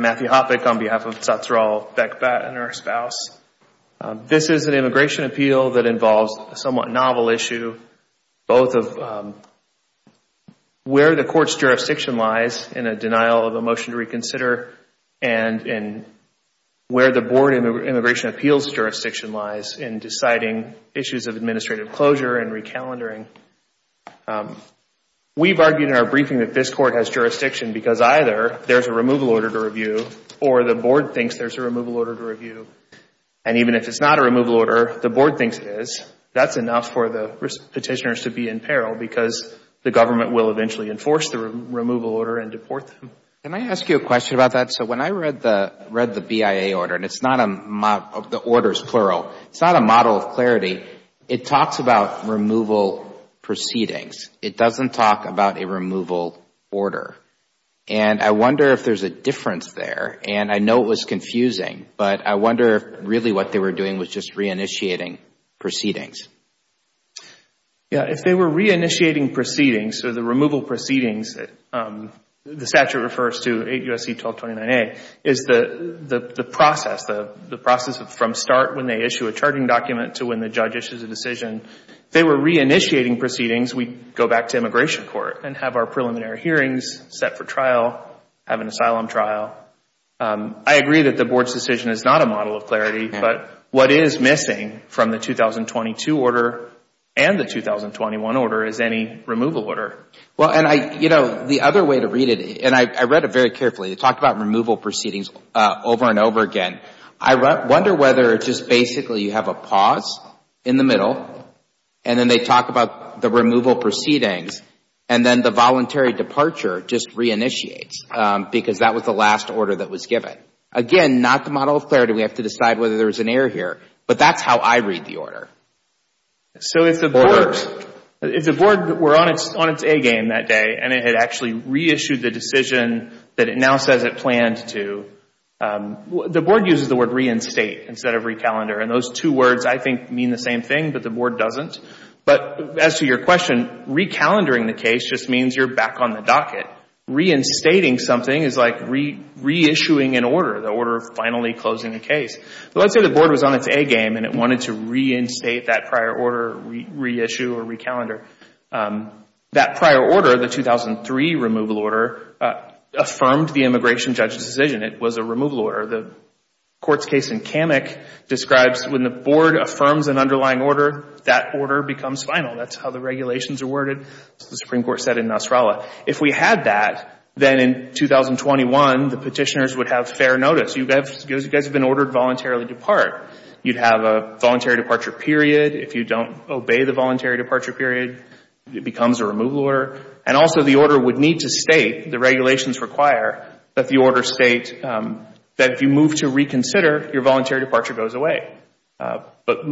Matthew Hoppeck, on behalf of Tatsral Bekhbat and her spouse, this is an immigration appeal that involves a somewhat novel issue, both of where the court's jurisdiction lies in a denial of a motion to reconsider and where the board immigration appeals jurisdiction lies in deciding issues of administrative closure and recalendering. We've argued in our briefing that this court has jurisdiction because either there's a removal order to review or the board thinks there's a removal order to review, and even if it's not a removal order, the board thinks it is, that's enough for the petitioners to be in peril because the government will eventually enforce the removal order and deport them. Can I ask you a question about that? So when I read the BIA order, and the order is plural, it's not a model of clarity. It talks about removal proceedings. It doesn't talk about a removal order. And I wonder if there's a difference there, and I know it was confusing, but I wonder if really what they were doing was just re-initiating proceedings. Yeah, if they were re-initiating proceedings, so the removal proceedings, the statute refers to 8 U.S.C. 1229A, is the process, the process from start when they issue a charging document to when the judge issues a decision, if they were re-initiating proceedings, we'd go back to immigration court and have our preliminary hearings set for trial, have an asylum trial. I agree that the board's decision is not a model of clarity, but what is missing from the 2022 order and the 2021 order is any removal order. Well, and I, you know, the other way to read it, and I read it very carefully, it talked about removal proceedings over and over again. I wonder whether it's just basically you have a pause in the middle, and then they talk about the removal proceedings, and then the voluntary departure just re-initiates because that was the last order that was given. Again, not the model of clarity. We have to decide whether there was an error here, but that's how I read the order. So if the board, if the board were on its A game that day and it had actually reissued the decision that it now says it planned to, the board uses the word reinstate instead of re-calendar, and those two words, I think, mean the same thing, but the board doesn't. But as to your question, re-calendaring the case just means you're back on the docket. Reinstating something is like reissuing an order, the order of finally closing a case. So let's say the board was on its A game and it wanted to reinstate that prior order, reissue or re-calendar. That prior order, the 2003 removal order, affirmed the immigration judge's decision. It was a removal order. The court's case in Kamek describes when the board affirms an underlying order, that order becomes final. That's how the regulations are worded, as the Supreme Court said in Nasrallah. If we had that, then in 2021, the petitioners would have fair notice. You guys have been ordered to voluntarily depart. You'd have a voluntary departure period. If you don't obey the voluntary departure period, it becomes a removal order. And also the order would need to state, the regulations require that the order state that if you move to reconsider, your voluntary departure goes away. But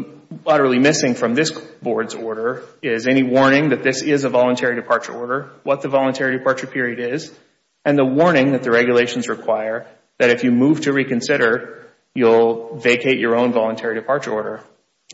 utterly missing from this board's order is any warning that this is a voluntary departure order, what the voluntary departure period is, and the warning that the regulations require that if you move to reconsider, you'll vacate your own voluntary departure order.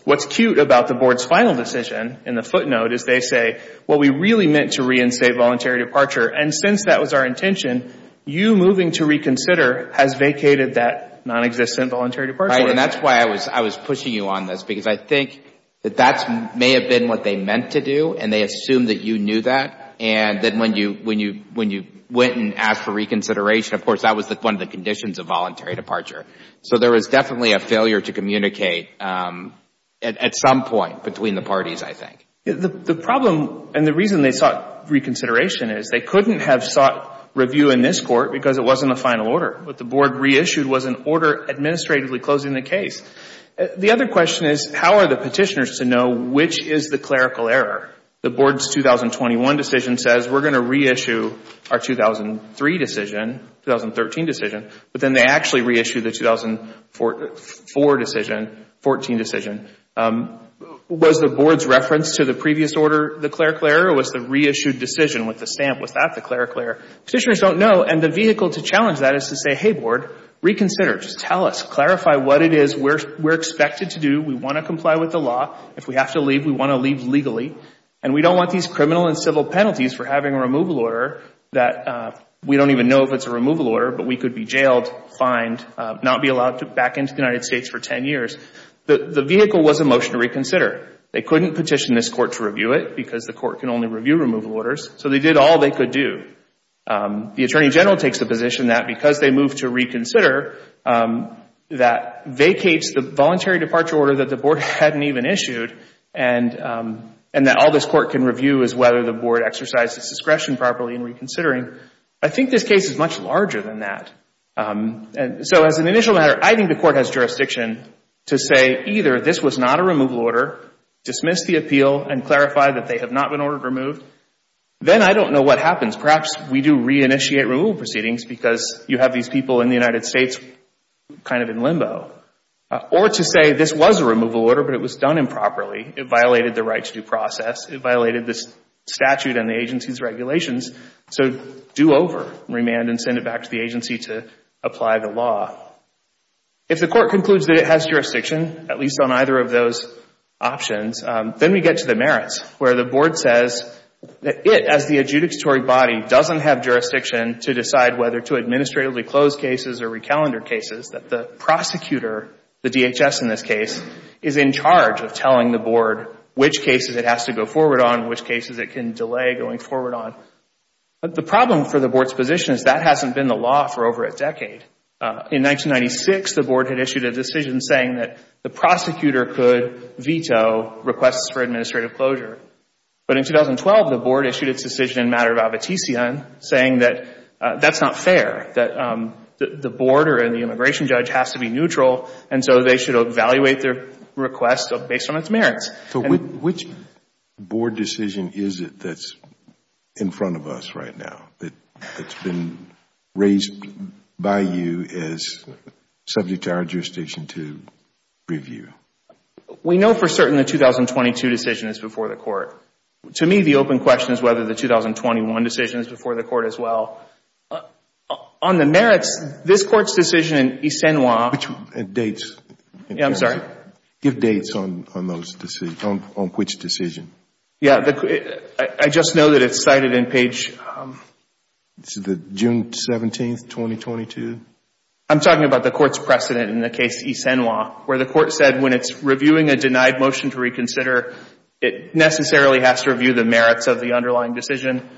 What's cute about the board's final decision in the footnote is they say, well, we really meant to reinstate voluntary departure. And since that was our intention, you moving to reconsider has vacated that nonexistent voluntary departure order. And that's why I was pushing you on this, because I think that that may have been what they meant to do, and they assumed that you knew that. And then when you went and asked for reconsideration, of course, that was one of the conditions of voluntary departure. So there was definitely a failure to communicate at some point between the parties, I think. The problem and the reason they sought reconsideration is they couldn't have sought review in this court because it wasn't a final order. What the board reissued was an order administratively closing the case. The other question is, how are the petitioners to know which is the clerical error? The board's 2021 decision says we're going to reissue our 2003 decision, 2013 decision, but then they actually reissue the 2004 decision, 2014 decision. Was the board's reference to the previous order the clerical error, or was the reissued decision with the stamp, was that the clerical error? Petitioners don't know, and the vehicle to challenge that is to say, hey, board, reconsider. Just tell us. Clarify what it is we're expected to do. We want to comply with the law. If we have to leave, we want to leave legally. And we don't want these criminal and civil penalties for having a removal order that we don't even know if it's a removal order, but we could be jailed, fined, not be allowed to back into the United States for 10 years. The vehicle was a motion to reconsider. They couldn't petition this court to review it because the court can only review removal orders. So they did all they could do. The attorney general takes the position that because they moved to reconsider, that vacates the voluntary departure order that the board hadn't even issued, and that all this court can review is whether the board exercised its discretion properly in reconsidering. I think this case is much larger than that. And so as an initial matter, I think the court has jurisdiction to say either this was not a removal order, dismiss the appeal, and clarify that they have not been ordered removed. Then I don't know what happens. Perhaps we do reinitiate removal proceedings because you have these people in the United States kind of in limbo. Or to say this was a removal order, but it was done improperly. It violated the right to due process. It violated the statute and the agency's regulations. So do over, remand, and send it back to the agency to apply the law. If the court concludes that it has jurisdiction, at least on either of those options, then we get to the merits, where the board says that it, as the adjudicatory body, doesn't have jurisdiction to decide whether to administratively close cases or recalendar cases, that the prosecutor, the DHS in this case, is in charge of telling the board which cases it has to go forward on, which cases it can delay going forward on. The problem for the board's position is that hasn't been the law for over a decade. In 1996, the board had issued a decision saying that the prosecutor could veto requests for administrative closure. But in 2012, the board issued its decision in matter of abatician, saying that that's not fair, that the board or the immigration judge has to be neutral, and so they should evaluate their requests based on its merits. So which board decision is it that's in front of us right now, that's been raised by you as subject to our jurisdiction to review? We know for certain the 2022 decision is before the court. To me, the open question is whether the 2021 decision is before the court as well. On the merits, this Court's decision in Issanois... Which dates? Yeah, I'm sorry. Give dates on those decisions, on which decision. Yeah, I just know that it's cited in page... Is it June 17, 2022? I'm talking about the court's precedent in the case Issanois, where the court said when it's reviewing a denied motion to reconsider, it necessarily has to review the merits of the underlying decision.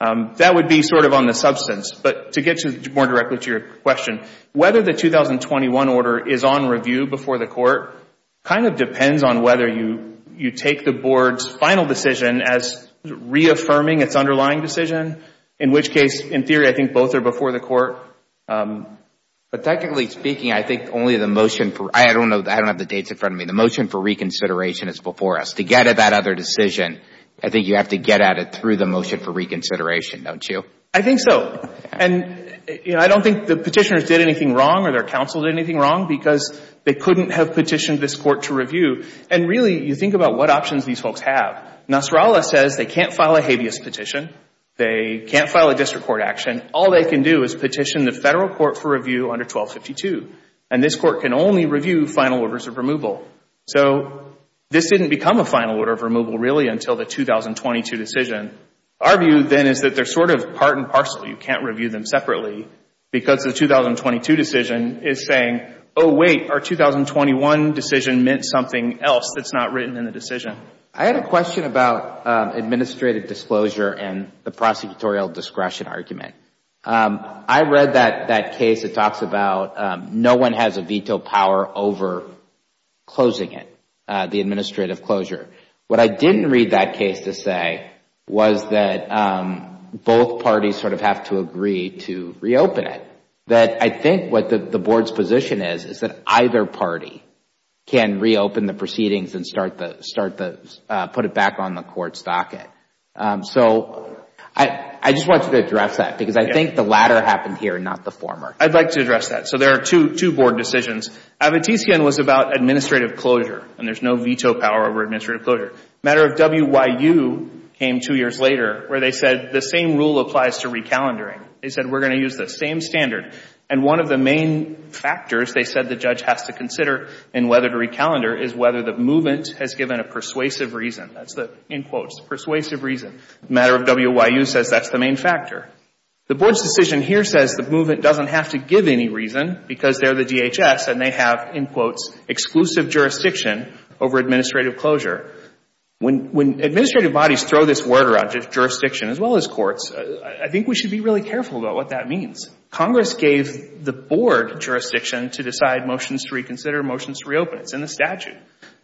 That would be sort of on the substance. But to get more directly to your question, whether the 2021 order is on review before the court kind of depends on whether you take the board's final decision as reaffirming its underlying decision. In which case, in theory, I think both are before the court. But technically speaking, I think only the motion for... I don't know. I don't have the dates in front of me. The motion for reconsideration is before us. To get at that other decision, I think you have to get at it through the motion for reconsideration, don't you? I think so. And, you know, I don't think the petitioners did anything wrong or their counsel did anything wrong because they couldn't have petitioned this court to review. And really, you think about what options these folks have. Nasrallah says they can't file a habeas petition. They can't file a district court action. All they can do is petition the federal court for review under 1252. And this court can only review final orders of removal. So this didn't become a final order of removal, really, until the 2022 decision. Our view then is that they're sort of part and parcel. You can't review them separately because the 2022 decision is saying, oh, wait, our 2021 decision meant something else that's not written in the decision. I had a question about administrative disclosure and the prosecutorial discretion argument. I read that case that talks about no one has a veto power over closing it, the administrative closure. What I didn't read that case to say was that both parties sort of have to agree to reopen it. That I think what the board's position is, is that either party can reopen the proceedings and put it back on the court's docket. So I just wanted to address that because I think the latter happened here and not the former. I'd like to address that. So there are two board decisions. Abitisian was about administrative closure and there's no veto power over administrative closure. Matter of WYU came two years later where they said the same rule applies to recalendering. They said we're going to use the same standard. And one of the main factors, they said, the judge has to consider in whether to recalendar is whether the movement has given a persuasive reason. That's the, in quotes, persuasive reason. Matter of WYU says that's the main factor. The board's decision here says the movement doesn't have to give any reason because they're the DHS and they have, in quotes, exclusive jurisdiction over administrative closure. When administrative bodies throw this word around, jurisdiction as well as courts, I think we should be really careful about what that means. Congress gave the board jurisdiction to decide motions to reconsider, motions to reopen. It's in the statute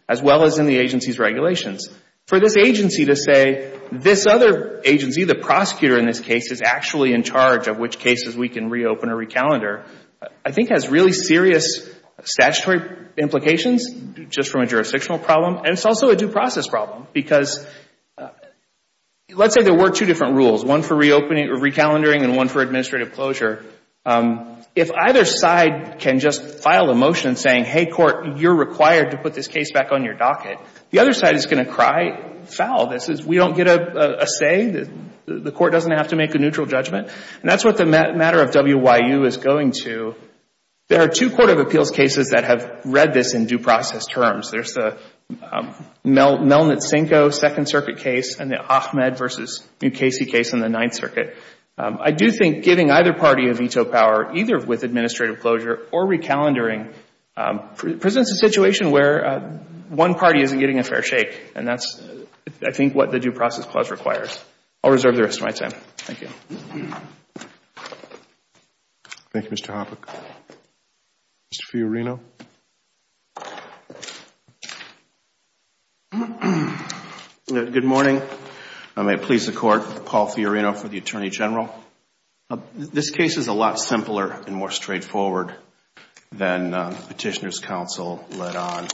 as well as in the agency's regulations. For this agency to say this other agency, the prosecutor in this case, is actually in charge of which cases we can reopen or recalendar, I think has really serious statutory implications just from a jurisdictional problem and it's also a due process problem. Because let's say there were two different rules, one for reopening or recalendering and one for administrative closure. If either side can just file a motion saying, hey, court, you're required to put this case back on your docket, the other side is going to cry foul. This is, we don't get a say? The court doesn't have to make a neutral judgment? That's what the matter of WYU is going to. There are two court of appeals cases that have read this in due process terms. There's the Melnitsenko Second Circuit case and the Ahmed v. Mukasey case in the Ninth Circuit. I do think giving either party a veto power, either with administrative closure or recalendering, presents a situation where one party isn't getting a fair shake and that's, I think, what the due process clause requires. I'll reserve the rest of my time. Thank you. Thank you, Mr. Hoppe. Mr. Fiorino? Good morning. I may please the court, Paul Fiorino for the Attorney General. This case is a lot simpler and more straightforward than Petitioner's Counsel led on.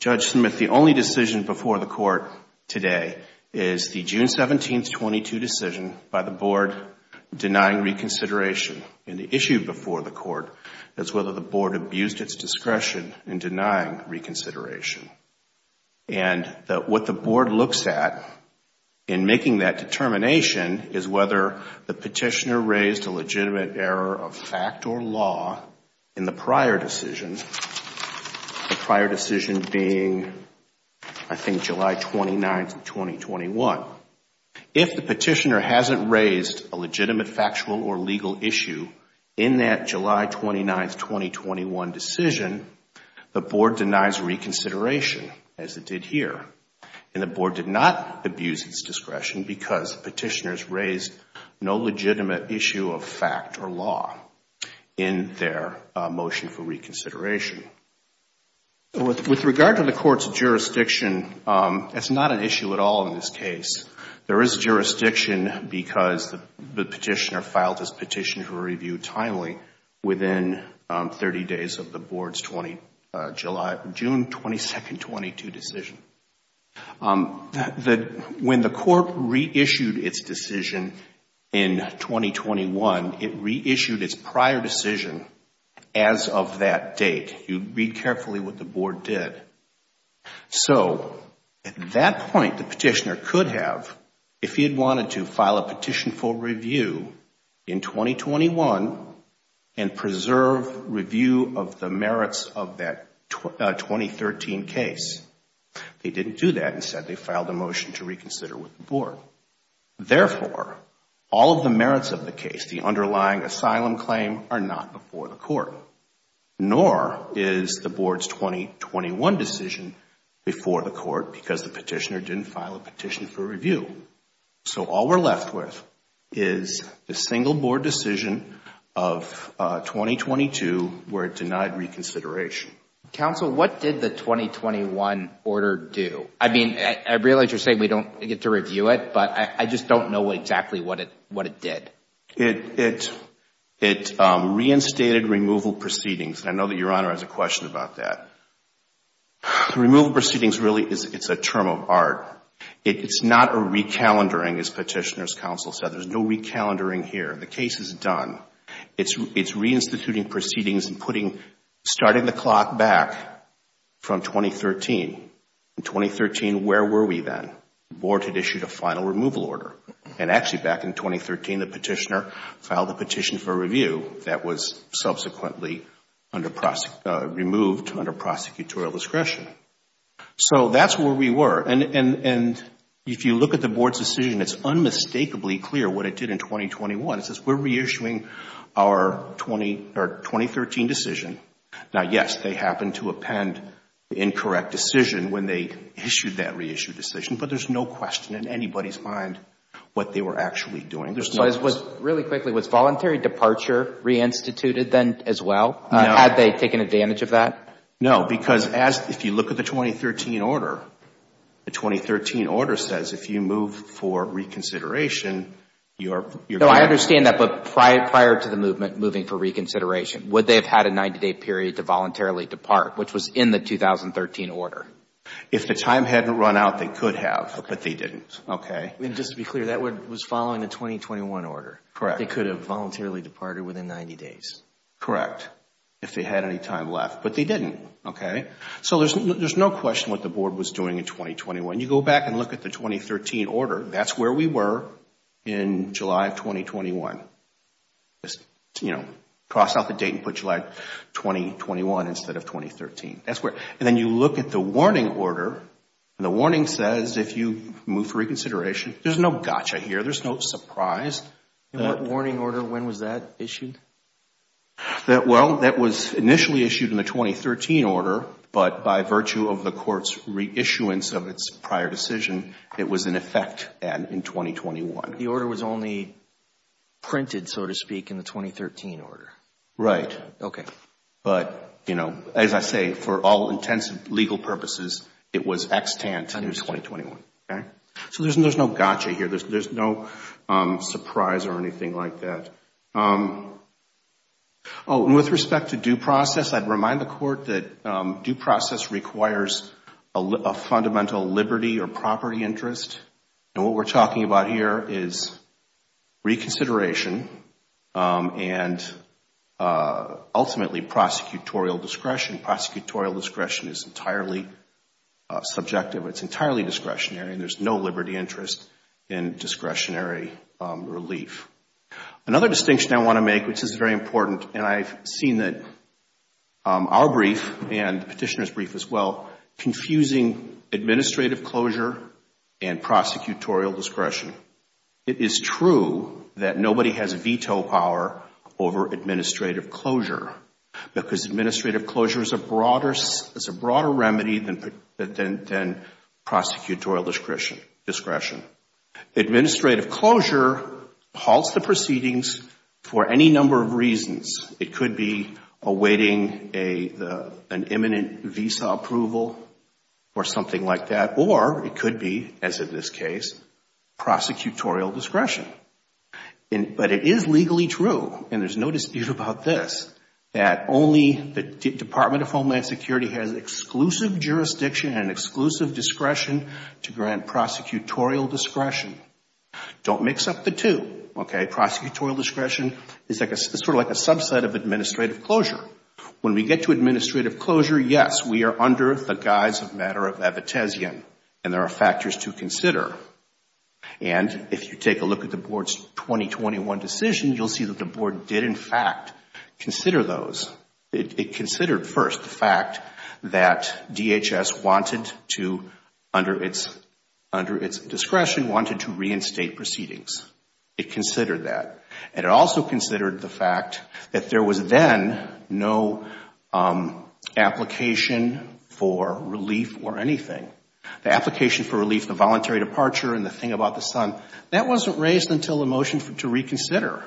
Judge Smith, the only decision before the court today is the June 17, 2022 decision by the board denying reconsideration. The issue before the court is whether the board abused its discretion in denying reconsideration. And what the board looks at in making that determination is whether the petitioner raised a legitimate error of fact or law in the prior decision, the prior decision being, I think, July 29, 2021. If the petitioner hasn't raised a legitimate factual or legal issue in that July 29, 2021 decision, the board denies reconsideration as it did here. And the board did not abuse its discretion because petitioners raised no legitimate issue of fact or law in their motion for reconsideration. With regard to the court's jurisdiction, it's not an issue at all in this case. There is jurisdiction because the petitioner filed his petition for review timely within 30 days of the board's June 22, 2022 decision. When the court reissued its decision in 2021, it reissued its prior decision as of that date. You read carefully what the board did. So at that point, the petitioner could have, if he had wanted to, filed a petition for review of the merits of that 2013 case. They didn't do that and said they filed a motion to reconsider with the board. Therefore, all of the merits of the case, the underlying asylum claim, are not before the court, nor is the board's 2021 decision before the court because the petitioner didn't file a petition for review. So all we're left with is the single board decision of 2022 where it denied reconsideration. Counsel, what did the 2021 order do? I mean, I realize you're saying we don't get to review it, but I just don't know exactly what it did. It reinstated removal proceedings. I know that Your Honor has a question about that. Removal proceedings really, it's a term of art. It's not a recalendering, as Petitioner's Counsel said. There's no recalendering here. The case is done. It's reinstituting proceedings and putting, starting the clock back from 2013. In 2013, where were we then? Board had issued a final removal order. And actually back in 2013, the petitioner filed a petition for review that was subsequently removed under prosecutorial discretion. So that's where we were. And if you look at the board's decision, it's unmistakably clear what it did in 2021. It says, we're reissuing our 2013 decision. Now, yes, they happened to append the incorrect decision when they issued that reissued decision. But there's no question in anybody's mind what they were actually doing. Really quickly, was voluntary departure reinstituted then as well? Had they taken advantage of that? No, because if you look at the 2013 order, the 2013 order says if you move for reconsideration, you're going to... No, I understand that. But prior to the movement, moving for reconsideration, would they have had a 90-day period to voluntarily depart, which was in the 2013 order? If the time hadn't run out, they could have, but they didn't. Okay. And just to be clear, that was following the 2021 order. Correct. They could have voluntarily departed within 90 days. Correct. If they had any time left, but they didn't. Okay. So there's no question what the board was doing in 2021. You go back and look at the 2013 order, that's where we were in July of 2021. Just, you know, cross out the date and put July 2021 instead of 2013. That's where... And then you look at the warning order, and the warning says if you move for reconsideration, there's no gotcha here. There's no surprise. And what warning order? When was that issued? Well, that was initially issued in the 2013 order, but by virtue of the court's reissuance of its prior decision, it was in effect in 2021. The order was only printed, so to speak, in the 2013 order. Right. Okay. But, you know, as I say, for all intents and legal purposes, it was extant in 2021. Okay. So there's no gotcha here. There's no surprise or anything like that. Oh, and with respect to due process, I'd remind the court that due process requires a fundamental liberty or property interest. And what we're talking about here is reconsideration and ultimately prosecutorial discretion. Prosecutorial discretion is entirely subjective. It's entirely discretionary, and there's no liberty interest in discretionary relief. Another distinction I want to make, which is very important, and I've seen that our brief and the petitioner's brief as well, confusing administrative closure and prosecutorial discretion. It is true that nobody has veto power over administrative closure because administrative closure is a broader remedy than prosecutorial discretion. Administrative closure halts the proceedings for any number of reasons. It could be awaiting an imminent visa approval or something like that, or it could be, as in this case, prosecutorial discretion. But it is legally true, and there's no dispute about this, that only the Department of Homeland Security has exclusive jurisdiction and exclusive discretion to grant prosecutorial discretion. Don't mix up the two. Okay? Prosecutorial discretion is sort of like a subset of administrative closure. When we get to administrative closure, yes, we are under the guise of matter of abetezian, and there are factors to consider. And if you take a look at the Board's 2021 decision, you'll see that the Board did in fact consider those. It considered first the fact that DHS wanted to, under its discretion, wanted to reinstate proceedings. It considered that. And it also considered the fact that there was then no application for relief or anything. The application for relief, the voluntary departure, and the thing about the son, that wasn't raised until the motion to reconsider.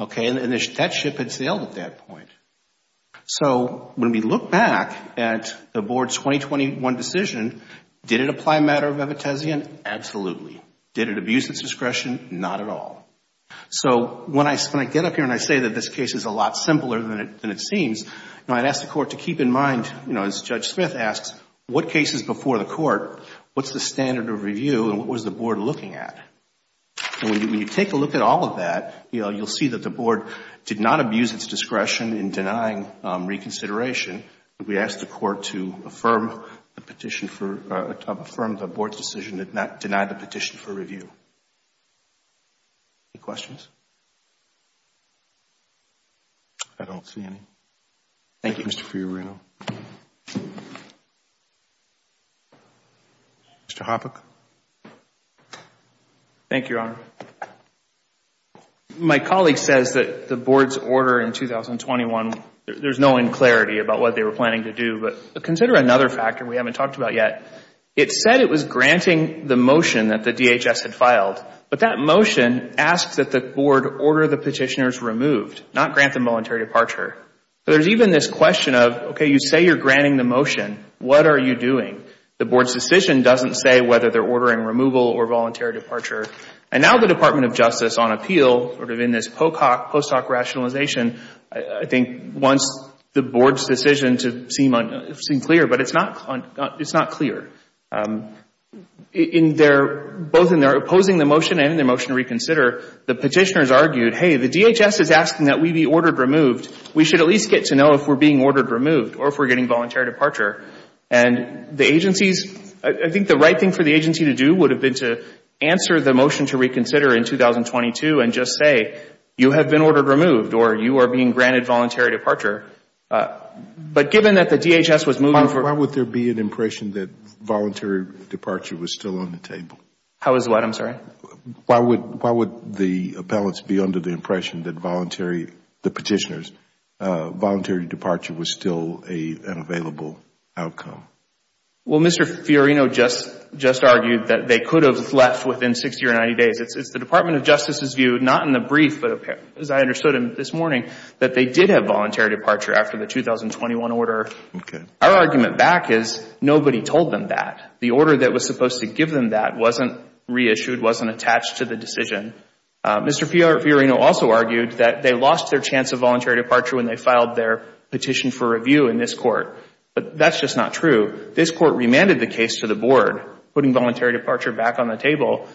Okay? And that ship had sailed at that point. So when we look back at the Board's 2021 decision, did it apply matter of abetezian? Absolutely. Did it abuse its discretion? Not at all. So when I get up here and I say that this case is a lot simpler than it seems, I'd ask the question before the Court, what's the standard of review and what was the Board looking at? And when you take a look at all of that, you'll see that the Board did not abuse its discretion in denying reconsideration. We asked the Court to affirm the Board's decision to deny the petition for review. Any questions? I don't see any. Thank you. Thank you, Mr. Fiorino. Mr. Hoppeck? Thank you, Your Honor. My colleague says that the Board's order in 2021, there's no clarity about what they were planning to do. But consider another factor we haven't talked about yet. It said it was granting the motion that the DHS had filed. But that motion asks that the Board order the petitioners removed, not grant the voluntary departure. So there's even this question of, okay, you say you're granting the motion. What are you doing? The Board's decision doesn't say whether they're ordering removal or voluntary departure. And now the Department of Justice on appeal, sort of in this post hoc rationalization, I think wants the Board's decision to seem clear, but it's not clear. In their, both in their opposing the motion and in their motion to reconsider, the petitioners argued, hey, the DHS is asking that we be ordered removed. We should at least get to know if we're being ordered removed or if we're getting voluntary departure. And the agency's, I think the right thing for the agency to do would have been to answer the motion to reconsider in 2022 and just say, you have been ordered removed or you are being granted voluntary departure. But given that the DHS was moving for Why would there be an impression that voluntary departure was still on the table? How is what? I'm sorry? Why would the appellants be under the impression that voluntary, the petitioners, voluntary departure was still an available outcome? Well, Mr. Fiorino just argued that they could have left within 60 or 90 days. It's the Department of Justice's view, not in the brief, but as I understood him this morning, that they did have voluntary departure after the 2021 order. Our argument back is nobody told them that. The order that was supposed to give them that wasn't reissued, wasn't attached to the decision. Mr. Fiorino also argued that they lost their chance of voluntary departure when they filed their petition for review in this court. But that's just not true. This court remanded the case to the board, putting voluntary departure back on the table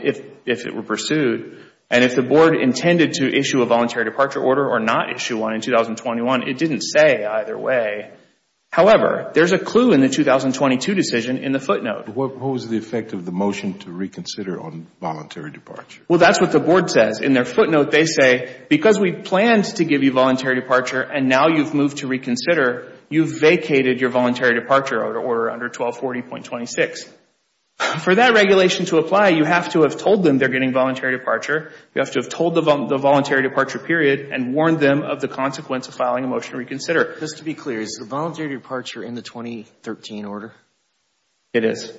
if it were pursued. And if the board intended to issue a voluntary departure order or not issue one in 2021, it didn't say either way. However, there's a clue in the 2022 decision in the footnote. What was the effect of the motion to reconsider on voluntary departure? Well, that's what the board says. In their footnote, they say, because we planned to give you voluntary departure and now you've moved to reconsider, you've vacated your voluntary departure order under 1240.26. For that regulation to apply, you have to have told them they're getting voluntary departure. You have to have told them the voluntary departure period and warned them of the consequence of filing a motion to reconsider. Just to be clear, is the voluntary departure in the 2013 order? It is.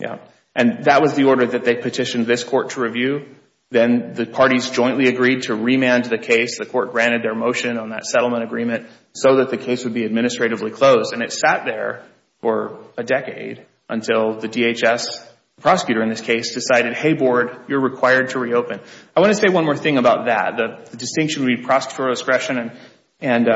Yeah. And that was the order that they petitioned this court to review. Then the parties jointly agreed to remand the case. The court granted their motion on that settlement agreement so that the case would be administratively closed. And it sat there for a decade until the DHS prosecutor in this case decided, hey, board, you're required to reopen. I want to say one more thing about that. The distinction between prosecutorial discretion and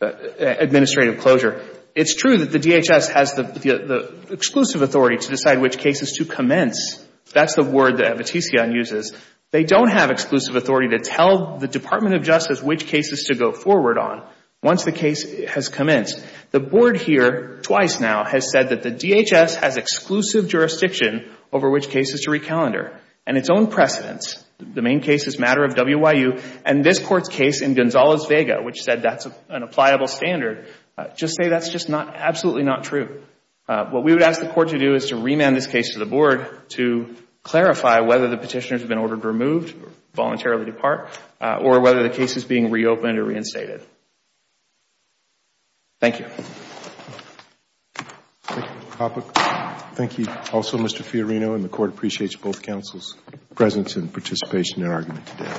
administrative closure, it's true that the DHS has the exclusive authority to decide which cases to commence. That's the word that Battisian uses. They don't have exclusive authority to tell the Department of Justice which cases to go forward on once the case has commenced. The board here, twice now, has said that the DHS has exclusive jurisdiction over which cases to recalendar. And its own precedents, the main case is a matter of WIU, and this Court's case in Gonzales-Vega, which said that's an appliable standard, just say that's just absolutely not true. What we would ask the Court to do is to remand this case to the board to clarify whether the petitioner has been ordered removed, voluntarily depart, or whether the case is being reopened or reinstated. Thank you. Thank you. Thank you. Also, Mr. Fiorino, and the Court appreciates both counsels' presence and participation in their argument today.